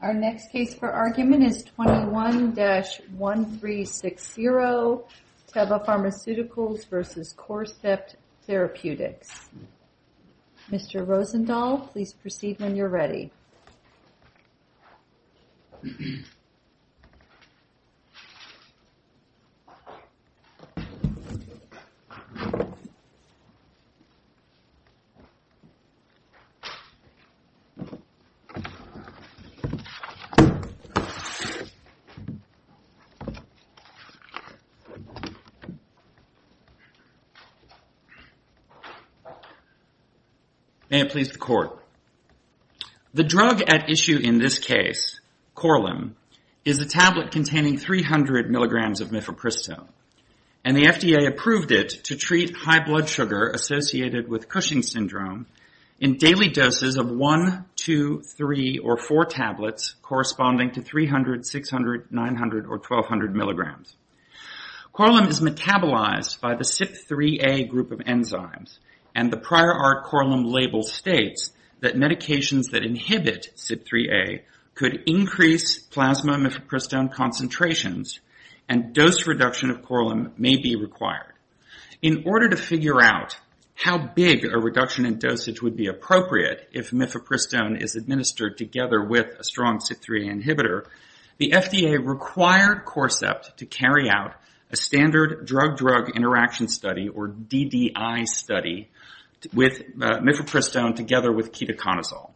Our next case for argument is 21-1360, Teva Pharmaceuticals v. Corcept Therapeutics. Mr. Rosendahl, please proceed when you're ready. May it please the Court. The drug at issue in this case, Coraline, is a tablet containing 300 mg of Mifepristone, and the FDA approved it to treat high blood sugar associated with tablets corresponding to 300, 600, 900, or 1200 mg. Coraline is metabolized by the CYP3A group of enzymes, and the prior art Coraline label states that medications that inhibit CYP3A could increase plasma Mifepristone concentrations, and dose reduction of Coraline may be required. In order to figure out how big a reduction in dosage would be appropriate if Mifepristone is administered together with a strong CYP3A inhibitor, the FDA required Corcept to carry out a standard drug-drug interaction study, or DDI study, with Mifepristone together with ketoconazole.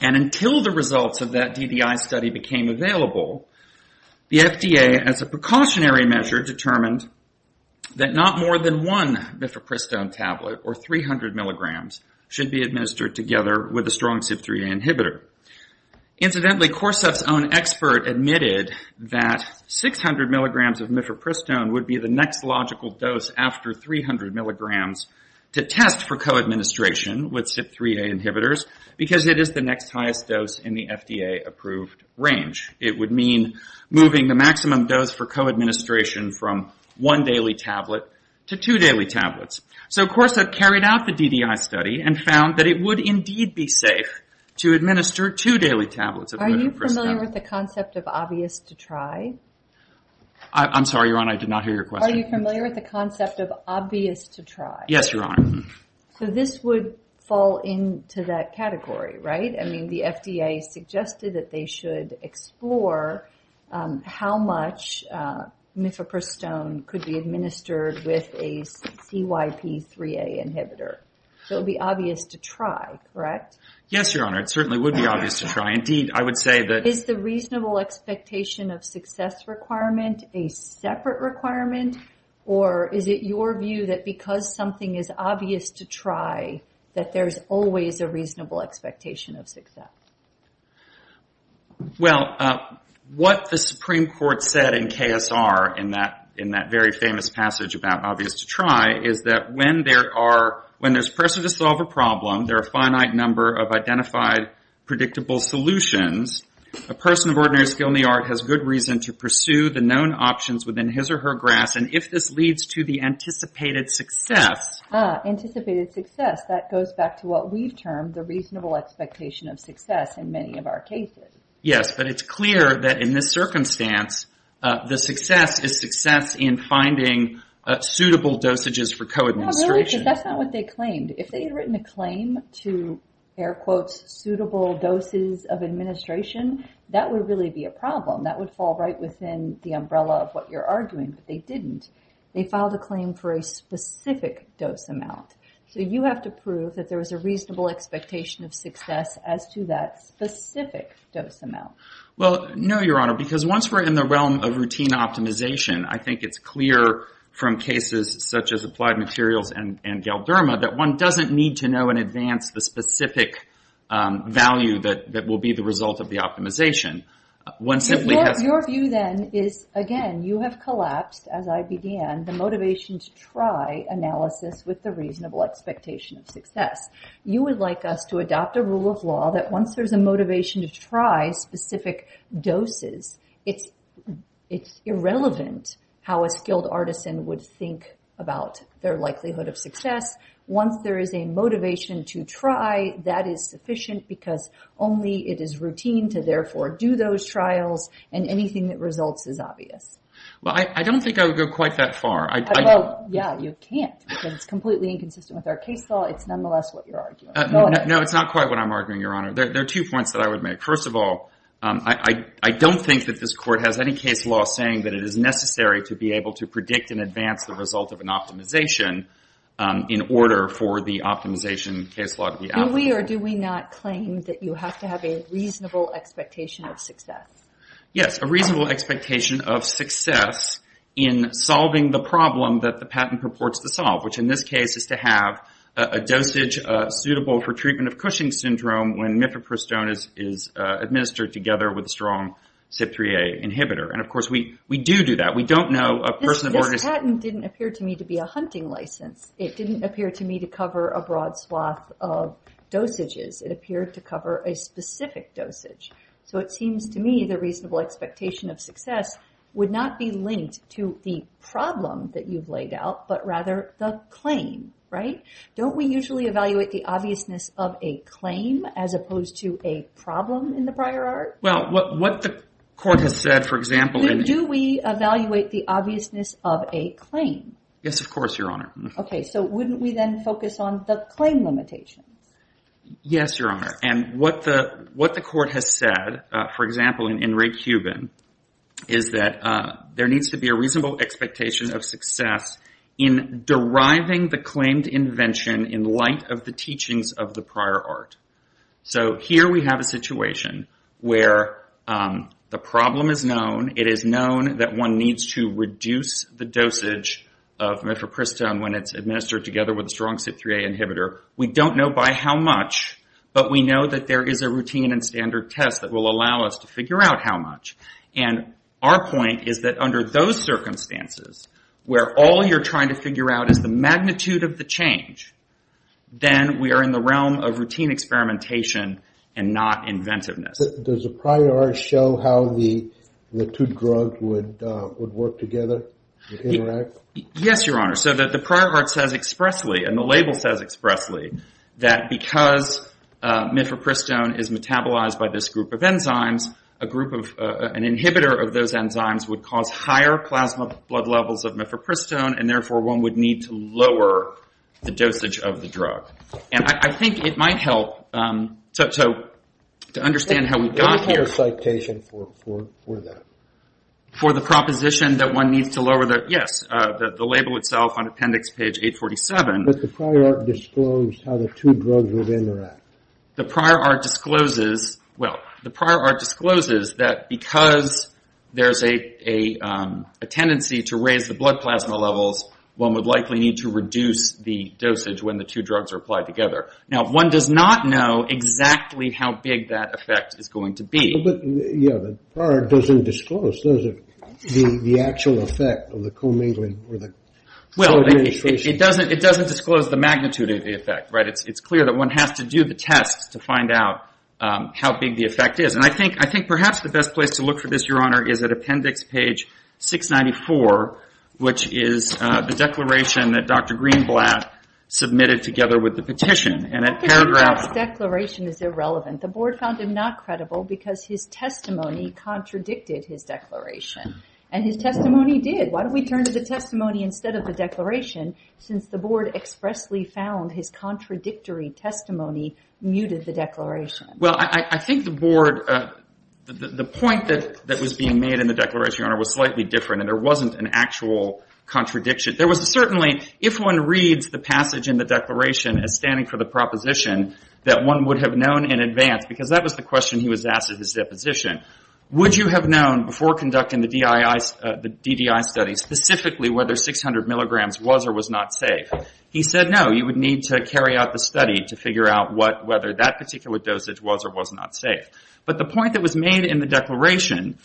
Until the results of that DDI study became available, the FDA, as a precautionary measure, determined that not more than one Mifepristone tablet, or 300 mg, should be administered with a CYP3A inhibitor. Incidentally, Corcept's own expert admitted that 600 mg of Mifepristone would be the next logical dose after 300 mg to test for co-administration with CYP3A inhibitors, because it is the next highest dose in the FDA approved range. It would mean moving the maximum dose for co-administration from one daily tablet to two daily tablets. So Corcept carried out the DDI study and found that it would indeed be safe to administer two daily tablets of Mifepristone. Are you familiar with the concept of obvious to try? I'm sorry, Your Honor, I did not hear your question. Are you familiar with the concept of obvious to try? Yes, Your Honor. So this would fall into that category, right? I mean, the FDA suggested that they should use a CYP3A inhibitor. It would be obvious to try, correct? Yes, Your Honor, it certainly would be obvious to try. Indeed, I would say that... Is the reasonable expectation of success requirement a separate requirement, or is it your view that because something is obvious to try, that there's always a reasonable expectation of success? Well, what the Supreme Court said in KSR, in that very famous passage about obvious to try, is that when there's pressure to solve a problem, there are a finite number of identified, predictable solutions, a person of ordinary skill in the art has good reason to pursue the known options within his or her grasp, and if this leads to the anticipated success... Ah, anticipated success. That goes back to what we've termed the reasonable expectation of success in many of our cases. Yes, but it's clear that in this circumstance, the success is success in finding suitable dosages for co-administration. No, really, because that's not what they claimed. If they had written a claim to, air quotes, suitable doses of administration, that would really be a problem. That would fall right within the umbrella of what you're arguing, but they didn't. They filed a claim for a specific dose amount. So you have to prove that there was a reasonable expectation of success. Well, no, Your Honor, because once we're in the realm of routine optimization, I think it's clear from cases such as Applied Materials and Galderma that one doesn't need to know in advance the specific value that will be the result of the optimization. One simply has... Your view then is, again, you have collapsed, as I began, the motivation to try analysis with the reasonable expectation of success. You would like us to adopt a rule of law that once there's a motivation to try specific doses, it's irrelevant how a skilled artisan would think about their likelihood of success. Once there is a motivation to try, that is sufficient because only it is routine to, therefore, do those trials, and anything that results is obvious. Well, I don't think I would go quite that far. Well, yeah, you can't, because it's completely inconsistent with our case law. It's nonetheless what you're arguing. No, it's not quite what I'm arguing, Your Honor. There are two points that I would make. First of all, I don't think that this Court has any case law saying that it is necessary to be able to predict in advance the result of an optimization in order for the optimization case law to be applicable. Do we or do we not claim that you have to have a reasonable expectation of success? Yes, a reasonable expectation of success in solving the problem that the patent purports to solve, which in this case is to have a dosage suitable for treatment of Cushing syndrome when mifepristone is administered together with a strong CYP3A inhibitor. And of course, we do do that. We don't know a person of order— This patent didn't appear to me to be a hunting license. It didn't appear to me to cover a broad swath of dosages. It appeared to cover a specific dosage. So it seems to me the reasonable expectation of success would not be linked to the problem that you've laid out, but rather the claim, right? Don't we usually evaluate the obviousness of a claim as opposed to a problem in the prior art? Well, what the Court has said, for example— Do we evaluate the obviousness of a claim? Yes, of course, Your Honor. Okay, so wouldn't we then focus on the claim limitations? Yes, Your Honor. And what the Court has said, for example, in Ray Cuban, is that there needs to be a reasonable expectation of success in deriving the claimed invention in light of the teachings of the prior art. So here we have a situation where the problem is known. It is known that one needs to reduce the dosage of mifepristone when it's administered together with a strong CYP3A inhibitor. We don't know by how much, but we know that there is a routine and standard test that will allow us to figure out how much. And our point is that under those circumstances, where all you're trying to figure out is the magnitude of the change, then we are in the realm of routine experimentation and not inventiveness. Does the prior art show how the two drugs would work together, would interact? Yes, Your Honor. So the prior art says expressly, and the label says expressly, that because mifepristone is metabolized by this group of enzymes, an inhibitor of those enzymes would cause higher plasma blood levels of mifepristone, and therefore one would need to lower the dosage of the drug. And I think it might help to understand how we got here. What is your citation for that? For the proposition that one needs to lower the, yes, the label itself on appendix page 847. But the prior art disclosed how the two drugs would interact. The prior art discloses, well, the prior art discloses that because there's a tendency to raise the blood plasma levels, one would likely need to reduce the dosage when the two drugs are applied together. Now, one does not know exactly how big that effect is going to be. Well, but, yes, the prior art doesn't disclose, does it, the actual effect of the co-mingling or the co-reinitiation? It doesn't disclose the magnitude of the effect, right? It's clear that one has to do the tests to find out how big the effect is. And I think perhaps the best place to look for this, Your Honor, is at appendix page 694, which is the declaration that Dr. Greenblatt submitted together with the petition. The Greenblatt's declaration is irrelevant. The Board found him not credible because his testimony contradicted his declaration. And his testimony did. Why don't we turn to the testimony instead of the declaration, since the Board expressly found his contradictory testimony muted the declaration? Well, I think the Board, the point that was being made in the declaration, Your Honor, was slightly different. And there wasn't an actual contradiction. There was certainly, if one reads the passage in the declaration as standing for the proposition that one would have known in advance, because that was the question he was asked at his deposition, would you have known before conducting the DDI study specifically whether 600 milligrams was or was not safe? He said, no, you would need to carry out the study to figure out whether that particular dosage was or was not safe. But the point that was made in the declaration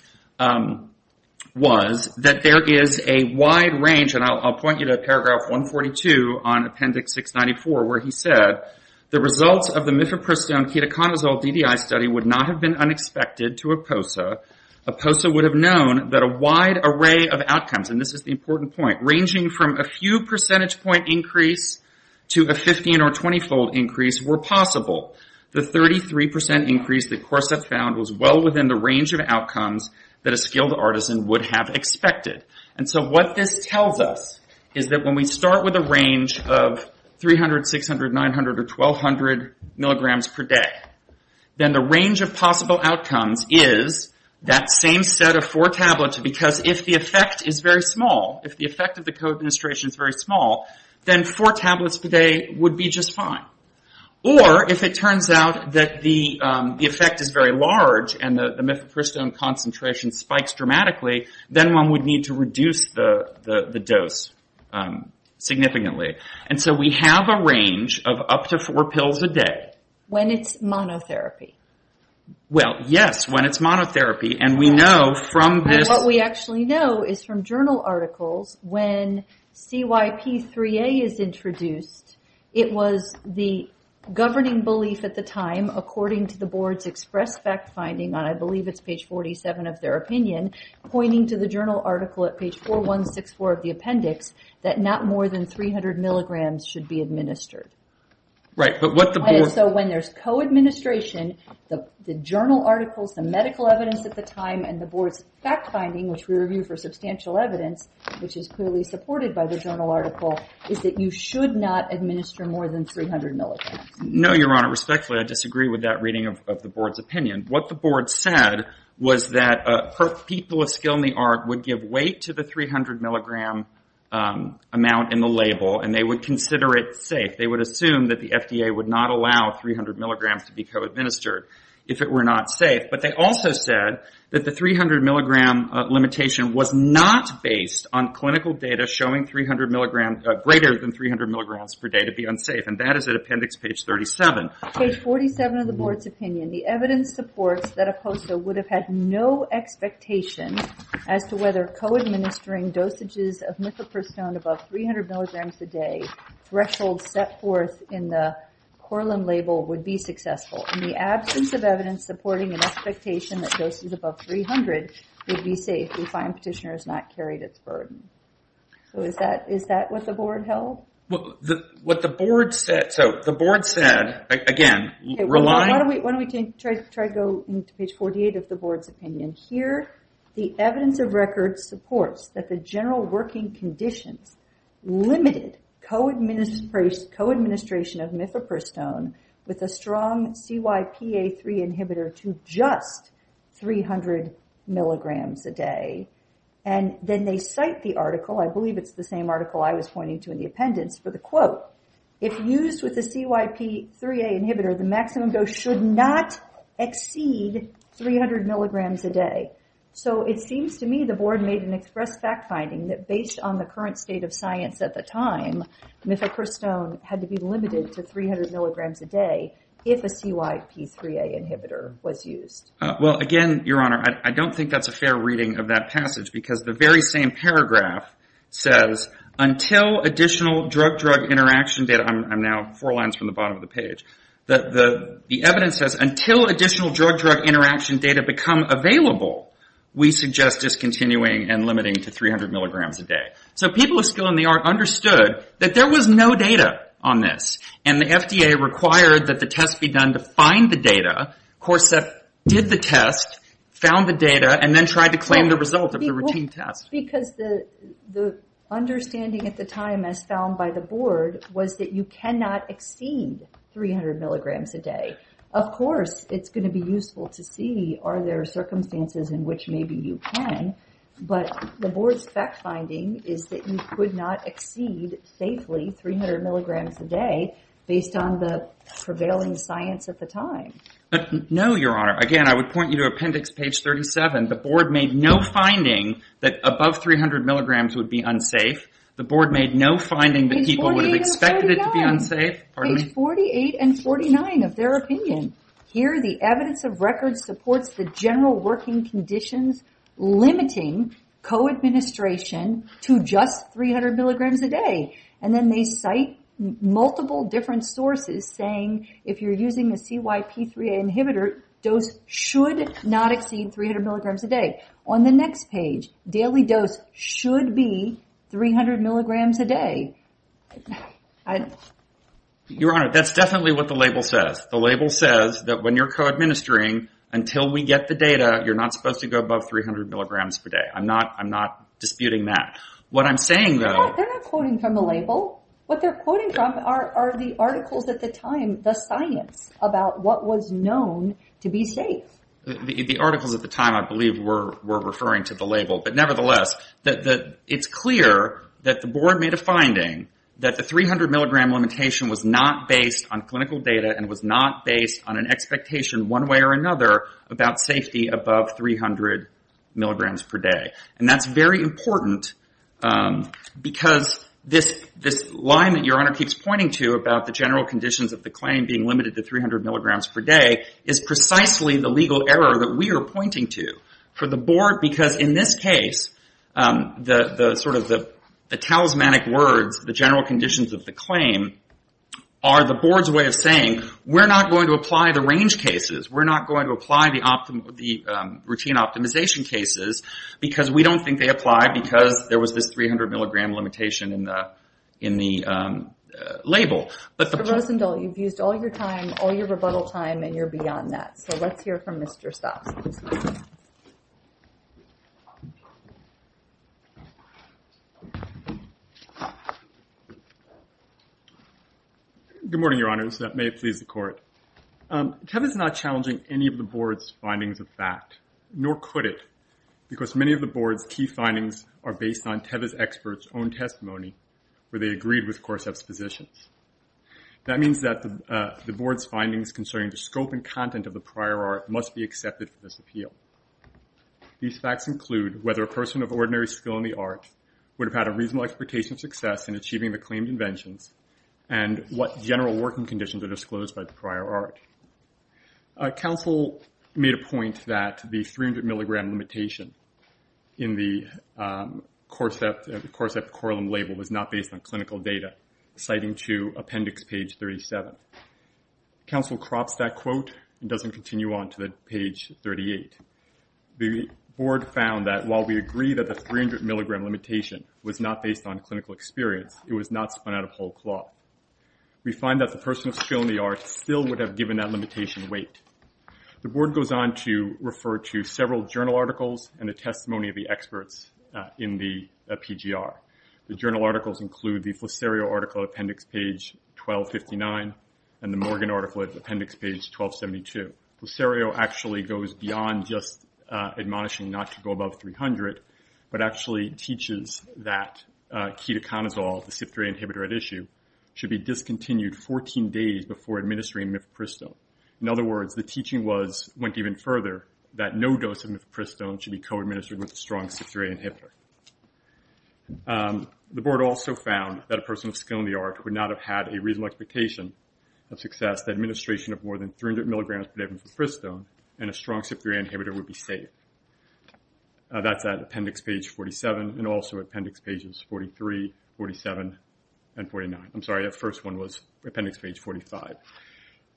was that there is a wide range, and I'll point you to paragraph 142 on Appendix 694, where he said the results of the Mifepristone-Ketoconazole DDI study would not have been unexpected to APOSA. APOSA would have known that a wide array of outcomes, and this is the important point, ranging from a few percentage point increase to a 15 or 20-fold increase were possible. The 33 percent increase that CORSEP found was well within the range of outcomes that a skilled artisan would have expected. What this tells us is that when we start with a range of 300, 600, 900, or 1200 milligrams per day, then the range of possible outcomes is that same set of four tablets, because if the effect is very small, if the effect of the co-administration is very small, then four tablets per day would be just fine. Or, if it turns out that the effect is very large and the Mifepristone concentration spikes dramatically, then one would need to reduce the dose significantly. We have a range of up to four pills a day. When it's monotherapy. Well, yes, when it's monotherapy, and we know from this- What we actually know is from journal articles, when CYP3A is introduced, it was the governing belief at the time, according to the board's express fact-finding, and I believe it's page 47 of their opinion, pointing to the journal article at page 4164 of the appendix, that not more than 300 milligrams should be administered. Right, but what the board- So when there's co-administration, the journal articles, the medical evidence at the time, and the board's fact-finding, which we review for substantial evidence, which is clearly supported by the journal article, is that you should not administer more than 300 milligrams. No, Your Honor, respectfully, I disagree with that reading of the board's opinion. What the board said was that people of skill in the art would give weight to the 300 milligram amount in the label, and they would consider it safe. They would assume that the FDA would not allow 300 milligrams to be co-administered if it were not safe, but they also said that the 300 milligram limitation was not based on clinical data showing greater than 300 milligrams per day to be unsafe, and that is at appendix page 37. Page 47 of the board's opinion, the evidence supports that a POSA would have had no expectation as to whether co-administering dosages of mifepristone above 300 milligrams a day threshold set forth in the Corlin label would be successful. In the absence of evidence supporting an expectation that doses above 300 would be safe, we find petitioner has not carried its burden. Is that what the board held? What the board said, so the board said, again, relying... Why don't we try to go into page 48 of the board's opinion here? The evidence of record supports that the general working conditions limited co-administration of mifepristone with a strong CYPA3 inhibitor to just 300 milligrams a day, and then they cite the article, I believe it's the same article I was pointing to in the appendix for the quote, if used with a CYP3A inhibitor, the maximum dose should not exceed 300 milligrams a day. So it seems to me the board made an express fact finding that based on the current state of science at the time, mifepristone had to be limited to 300 milligrams a day if a CYP3A inhibitor was used. Well, again, Your Honor, I don't think that's a fair reading of that passage because the very same paragraph says, until additional drug-drug interaction data, I'm now four lines from the bottom of the page, the evidence says, until additional drug-drug interaction data become available, we suggest discontinuing and limiting to 300 milligrams a day. So people of skill in the art understood that there was no data on this, and the FDA required that the test be done to find the data, CORSEP did the test, found the data, and then tried to claim the result of the routine test. Because the understanding at the time as found by the board was that you cannot exceed 300 milligrams a day. Of course, it's going to be useful to see are there circumstances in which maybe you can, but the board's fact finding is that you could not exceed, safely, 300 milligrams a day based on the prevailing science at the time. No, Your Honor. Again, I would point you to appendix page 37. The board made no finding that above 300 milligrams would be unsafe. The board made no finding that people would have expected it to be unsafe. Page 48 and 49 of their opinion. Here the evidence of record supports the general working conditions limiting co-administration to just 300 milligrams a day. Then they cite multiple different sources saying if you're using the CYP3A inhibitor, dose should not exceed 300 milligrams a day. On the next page, daily dose should be 300 milligrams a day. Your Honor, that's definitely what the label says. The label says that when you're co-administering, until we get the data, you're not supposed to go above 300 milligrams per day. I'm not disputing that. What I'm saying, though. They're not quoting from the label. What they're quoting from are the articles at the time, the science about what was known to be safe. The articles at the time, I believe, were referring to the label, but nevertheless, it's clear that the board made a finding that the 300 milligram limitation was not based on clinical data and was not based on an expectation one way or another about safety above 300 milligrams per day. That's very important because this line that Your Honor keeps pointing to about the general conditions of the claim being limited to 300 milligrams per day is precisely the legal error that we are pointing to for the board. In this case, the talismanic words, the general conditions of the claim, are the board's way of saying we're not going to apply the range cases. We're not going to apply the routine optimization cases because we don't think they apply because there was this 300 milligram limitation in the label. Mr. Rosendahl, you've used all your time, all your rebuttal time, and you're beyond that. Let's hear from Mr. Stocks. Good morning, Your Honor. May it please the court. Kevin's not challenging. I'm not challenging any of the board's findings of fact, nor could it, because many of the board's key findings are based on Tevye's expert's own testimony where they agreed with Korsav's positions. That means that the board's findings concerning the scope and content of the prior art must be accepted for this appeal. These facts include whether a person of ordinary skill in the art would have had a reasonable expectation of success in achieving the claimed inventions and what general working conditions were disclosed by the prior art. Counsel made a point that the 300 milligram limitation in the Korsav Corlem label was not based on clinical data, citing to appendix page 37. Counsel crops that quote and doesn't continue on to page 38. The board found that while we agree that the 300 milligram limitation was not based on clinical experience, it was not spun out of whole cloth. We find that the person of skill in the art still would have given that limitation weight. The board goes on to refer to several journal articles and the testimony of the experts in the PGR. The journal articles include the Flissario article appendix page 1259 and the Morgan article appendix page 1272. Flissario actually goes beyond just admonishing not to go above 300, but actually teaches that ketoconazole, the CYP3A inhibitor at issue, should be discontinued 14 days before administering mifepristone. In other words, the teaching went even further that no dose of mifepristone should be co-administered with a strong CYP3A inhibitor. The board also found that a person of skill in the art would not have had a reasonable expectation of success, the administration of more than 300 milligrams per day of mifepristone and a strong CYP3A inhibitor would be safe. That's at appendix page 47 and also appendix pages 43, 47, and 49. I'm sorry, that first one was appendix page 45.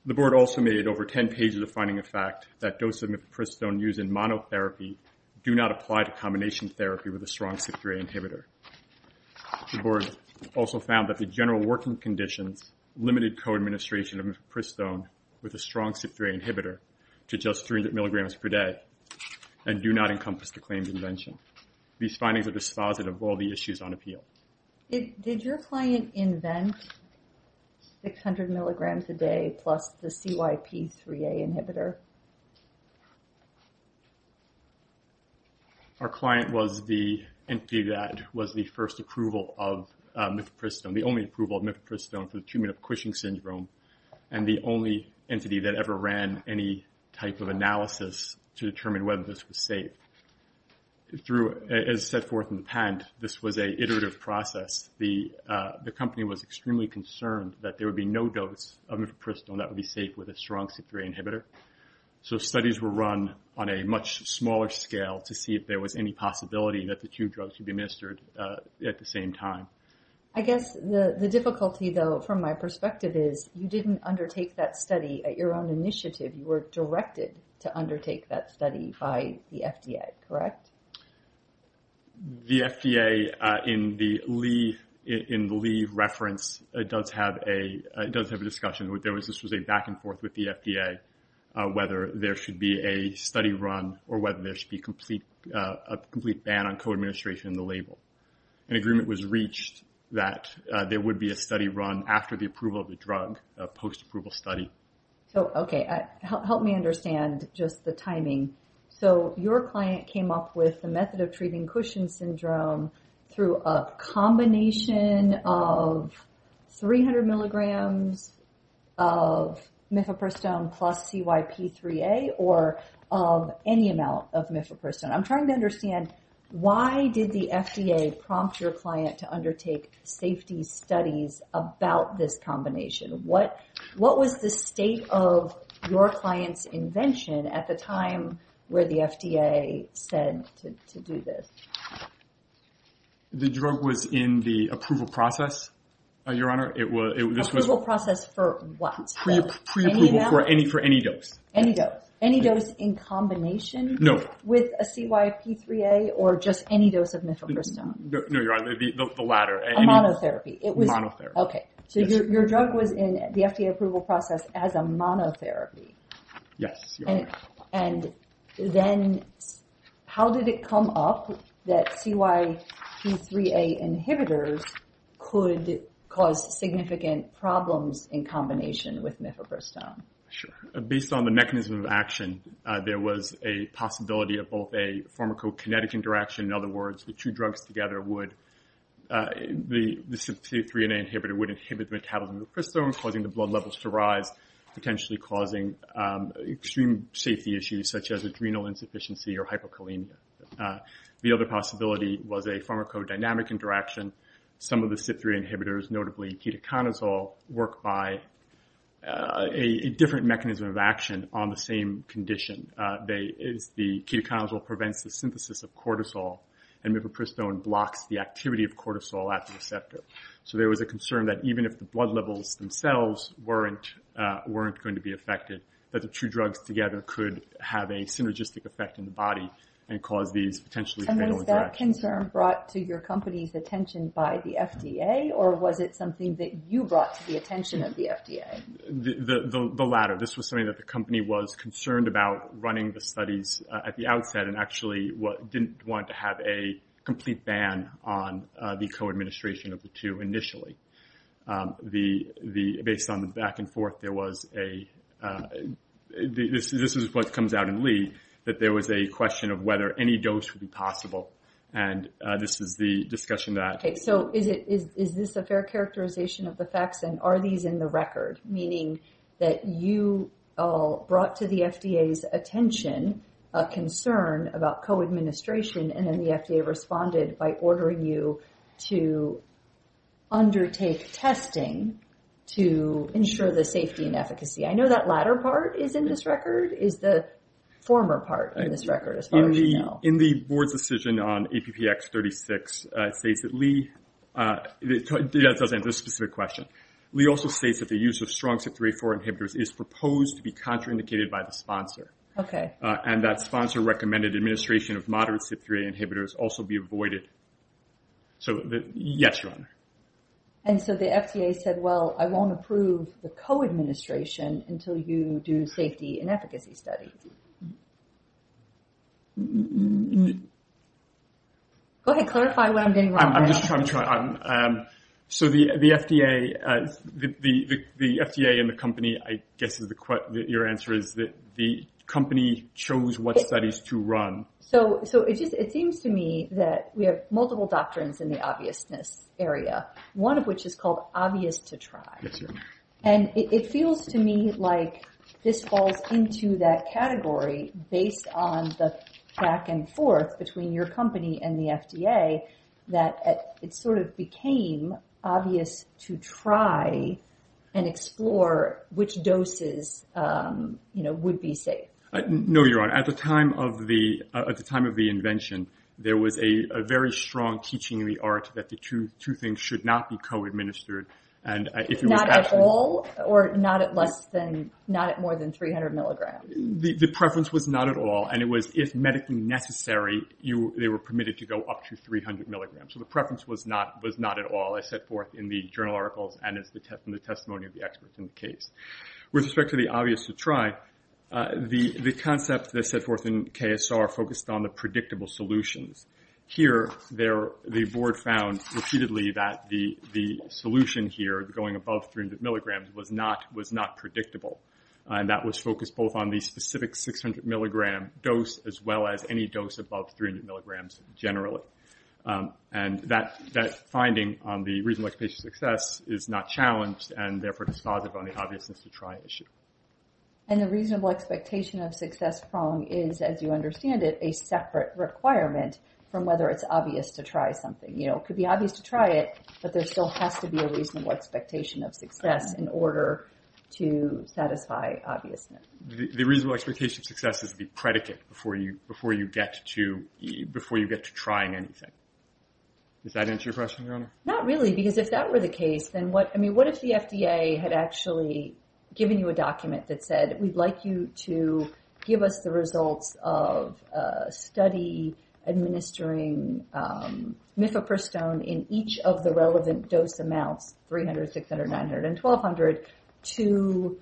The board also made over 10 pages of finding a fact that dose of mifepristone used in monotherapy do not apply to combination therapy with a strong CYP3A inhibitor. The board also found that the general working conditions limited co-administration of mifepristone with a strong CYP3A inhibitor to just 300 milligrams per day and do not encompass the claimed invention. These findings are dispositive of all the issues on appeal. Did your client invent 600 milligrams a day plus the CYP3A inhibitor? Our client was the entity that was the first approval of mifepristone, the only approval of mifepristone for the treatment of Cushing syndrome, and the only entity that ever ran any type of analysis to determine whether this was safe. As set forth in the patent, this was an iterative process. The company was extremely concerned that there would be no dose of mifepristone that would be safe with a strong CYP3A inhibitor. So studies were run on a much smaller scale to see if there was any possibility that the two drugs could be administered at the same time. I guess the difficulty, though, from my perspective is you didn't undertake that study at your own initiative. You were directed to undertake that study by the FDA, correct? The FDA, in the Lee reference, does have a discussion. This was a back and forth with the FDA, whether there should be a study run or whether there should be a complete ban on co-administration in the label. An agreement was reached that there would be a study run after the approval of the drug, a post-approval study. So, okay, help me understand just the timing. So your client came up with the method of treating Cushing syndrome through a combination of 300 milligrams of mifepristone plus CYP3A or any amount of mifepristone. I'm trying to understand why did the FDA prompt your client to undertake safety studies about this combination? What was the state of your client's invention at the time where the FDA said to do this? The drug was in the approval process, Your Honor. Approval process for what? Pre-approval for any dose. Any dose. Any dose in combination? No. With a CYP3A or just any dose of mifepristone? No, Your Honor, the latter. A monotherapy? A monotherapy. Okay. So your drug was in the FDA approval process as a monotherapy? Yes, Your Honor. And then how did it come up that CYP3A inhibitors could cause significant problems in combination with mifepristone? Sure. Based on the mechanism of action, there was a possibility of both a pharmacokinetic interaction. In other words, the two drugs together would, the CYP3A inhibitor would inhibit the metabolism of mifepristone, causing the blood levels to rise, potentially causing extreme safety issues such as adrenal insufficiency or hyperkalemia. The other possibility was a pharmacodynamic interaction. Some of the CYP3A inhibitors, notably ketoconazole, work by a different mechanism of action on the same condition. The ketoconazole prevents the synthesis of cortisol, and mifepristone blocks the activity of cortisol at the receptor. So there was a concern that even if the blood levels themselves weren't going to be affected, that the two drugs together could have a synergistic effect in the body and cause these potentially fatal interactions. Was that concern brought to your company's attention by the FDA, or was it something that you brought to the attention of the FDA? The latter. This was something that the company was concerned about running the studies at the outset and actually didn't want to have a complete ban on the co-administration of the two initially. Based on the back and forth, there was a, this is what comes out in Lee, that there was a question of whether any dose would be possible. And this is the discussion that... Okay. So is this a fair characterization of the facts, and are these in the record? Meaning that you brought to the FDA's attention a concern about co-administration, and then the FDA responded by ordering you to undertake testing to ensure the safety and efficacy. I know that latter part is in this record, is the former part in this record, as far as we know. In the board's decision on APPX36, it states that Lee... That doesn't answer the specific question. Lee also states that the use of strong CYP3A4 inhibitors is proposed to be contraindicated by the sponsor. Okay. And that sponsor recommended administration of moderate CYP3A inhibitors also be avoided. So yes, Your Honor. And so the FDA said, well, I won't approve the co-administration until you do safety and efficacy studies. Go ahead, clarify what I'm getting wrong. I'm just trying to... So the FDA and the company, I guess your answer is that the company chose what studies to run. So it seems to me that we have multiple doctrines in the obviousness area, one of which is called obvious to try. And it feels to me like this falls into that category based on the back and forth between your company and the FDA that it sort of became obvious to try and explore which doses would be safe. No, Your Honor. At the time of the invention, there was a very strong teaching in the art that the two things should not be co-administered. And if it was actually... Not at all or not at more than 300 milligrams? The preference was not at all. And it was, if medically necessary, they were permitted to go up to 300 milligrams. So the preference was not at all as set forth in the journal articles and in the testimony of the experts in the case. With respect to the obvious to try, the concept that set forth in KSR focused on the predictable solutions. Here, the board found repeatedly that the solution here, going above 300 milligrams, was not predictable. And that was focused both on the specific 600 milligram dose as well as any dose above 300 milligrams generally. And that finding on the reasonable expectation of success is not challenged and therefore dispositive on the obviousness to try issue. And the reasonable expectation of success prong is, as you understand it, a separate requirement from whether it's obvious to try something. You know, it could be obvious to try it, but there still has to be a reasonable expectation of success in order to satisfy obviousness. The reasonable expectation of success is the predicate before you get to trying anything. Does that answer your question, Your Honor? Not really. Because if that were the case, then what if the FDA had actually given you a document that said, we'd like you to give us the results of a study administering mifepristone in each of the relevant dose amounts, 300, 600, 900, and 1,200, to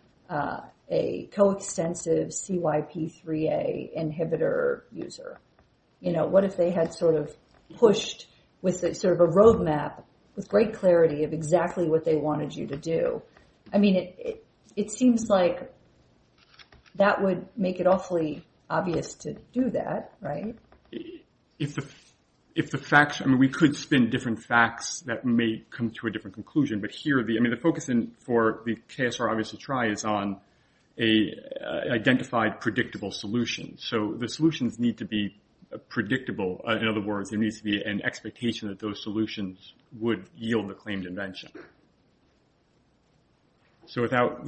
a coextensive CYP3A inhibitor user? You know, what if they had sort of pushed with sort of a roadmap with great clarity of exactly what they wanted you to do? I mean, it seems like that would make it awfully obvious to do that, right? If the facts, I mean, we could spin different facts that may come to a different conclusion. But here, I mean, the focus for the KSR obvious to try is on an identified predictable solution. So the solutions need to be predictable. In other words, there needs to be an expectation that those solutions would yield the claimed invention. So without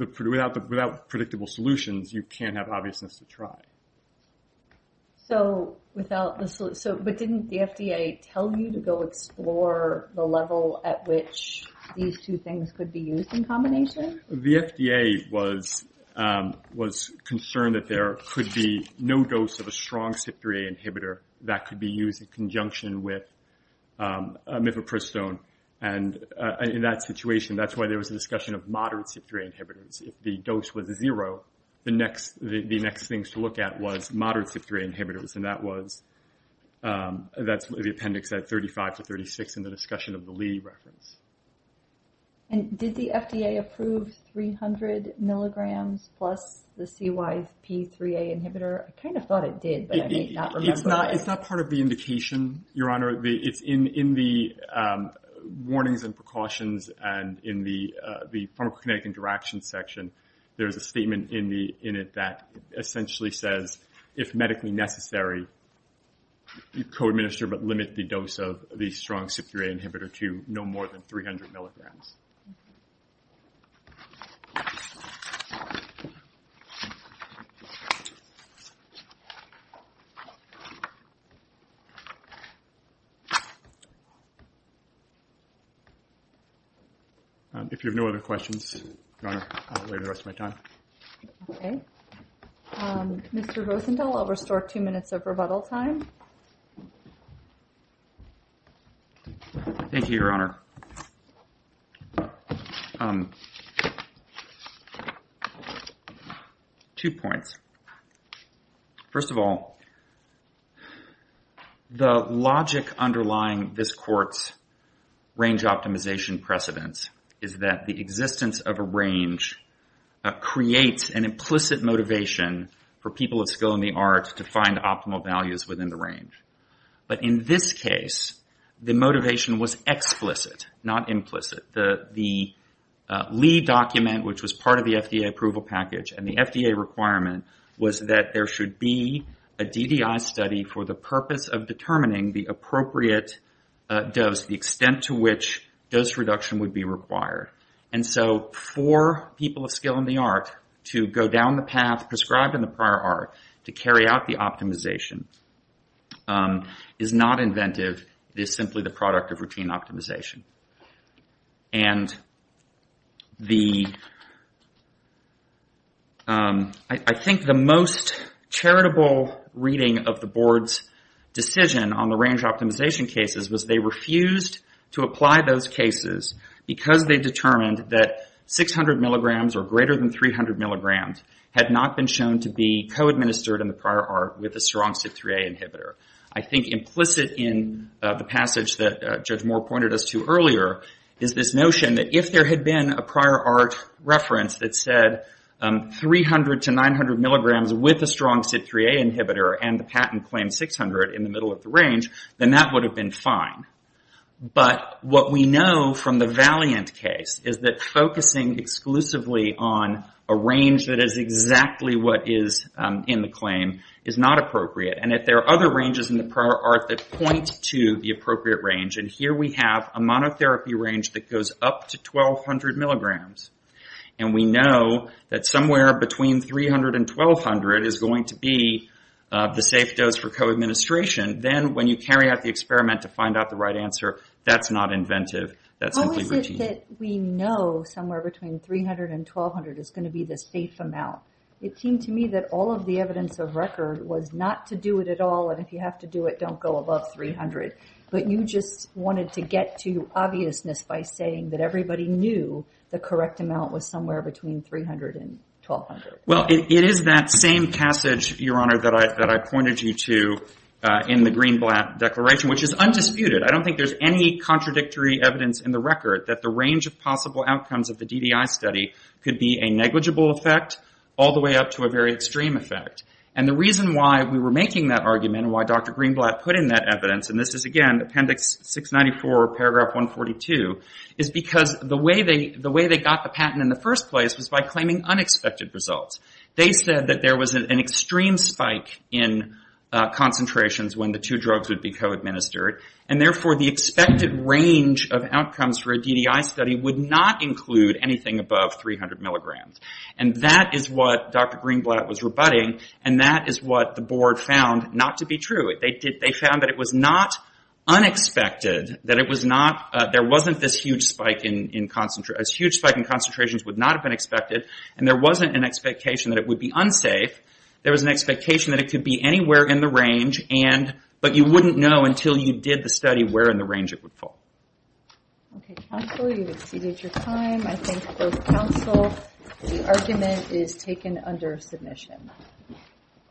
predictable solutions, you can't have obviousness to try. So without the solution, but didn't the FDA tell you to go explore the level at which these two things could be used in combination? The FDA was concerned that there could be no dose of a strong CYP3A inhibitor that could be used in conjunction with mifepristone. And in that situation, that's why there was a discussion of moderate CYP3A inhibitors. If the dose was zero, the next things to look at was moderate CYP3A inhibitors. And that was, that's the appendix at 35 to 36 in the discussion of the Lee reference. And did the FDA approve 300 milligrams plus the CYP3A inhibitor? I kind of thought it did, but I may not remember. It's not part of the indication, Your Honor. It's in the warnings and precautions and in the pharmacokinetic interaction section, there is a statement in it that essentially says, if medically necessary, you co-administer but limit the dose of the strong CYP3A inhibitor to no more than 300 milligrams. If you have no other questions, Your Honor, I'll wait the rest of my time. Okay. Mr. Rosenthal, I'll restore two minutes of rebuttal time. Thank you, Your Honor. Two points. First of all, the logic underlying this court's range optimization precedence is that the existence of a range creates an implicit motivation for people of skill in the arts to find optimal values within the range. But in this case, the motivation was explicit, not implicit. The Lee document, which was part of the FDA approval package, and the FDA requirement was that there should be a DDI study for the purpose of determining the appropriate dose, the extent to which dose reduction would be required. And so for people of skill in the art to go down the path prescribed in the prior art to carry out the optimization is not inventive. It is simply the product of routine optimization. I think the most charitable reading of the board's decision on the range optimization cases was they refused to apply those cases because they determined that 600 milligrams or greater than 300 milligrams had not been shown to be co-administered in the prior art with a strong CYP3A inhibitor. I think implicit in the passage that Judge Moore pointed us to earlier is this notion that if there had been a prior art reference that said 300 to 900 milligrams with a strong CYP3A inhibitor and the patent claims 600 in the middle of the range, then that would have been fine. But what we know from the Valiant case is that focusing exclusively on a range that is exactly what is in the claim is not appropriate. And if there are other ranges in the prior art that point to the appropriate range, and here we have a monotherapy range that goes up to 1,200 milligrams, and we know that somewhere between 300 and 1,200 is going to be the safe dose for co-administration, then when you carry out the experiment to find out the right answer, that's not inventive, that's simply routine. How is it that we know somewhere between 300 and 1,200 is going to be the safe amount? It seemed to me that all of the evidence of record was not to do it at all, and if you have to do it, don't go above 300. But you just wanted to get to obviousness by saying that everybody knew the correct amount was somewhere between 300 and 1,200. Well, it is that same passage, Your Honor, that I pointed you to in the Greenblatt declaration, which is undisputed. I don't think there's any contradictory evidence in the record that the range of possible outcomes of the DDI study could be a negligible effect all the way up to a very extreme effect. And the reason why we were making that argument and why Dr. Greenblatt put in that evidence, and this is, again, Appendix 694, Paragraph 142, is because the way they got the patent in the first place was by claiming unexpected results. They said that there was an extreme spike in concentrations when the two drugs would be co-administered, and therefore the expected range of outcomes for a DDI study would not include anything above 300 milligrams. And that is what Dr. Greenblatt was rebutting, and that is what the board found not to be true. They found that it was not unexpected, that there wasn't this huge spike in concentrations, would not have been expected, and there wasn't an expectation that it would be unsafe. There was an expectation that it could be anywhere in the range, but you wouldn't know until you did the study where in the range it would fall. Okay, counsel, you've exceeded your time. I thank both counsel. The argument is taken under submission.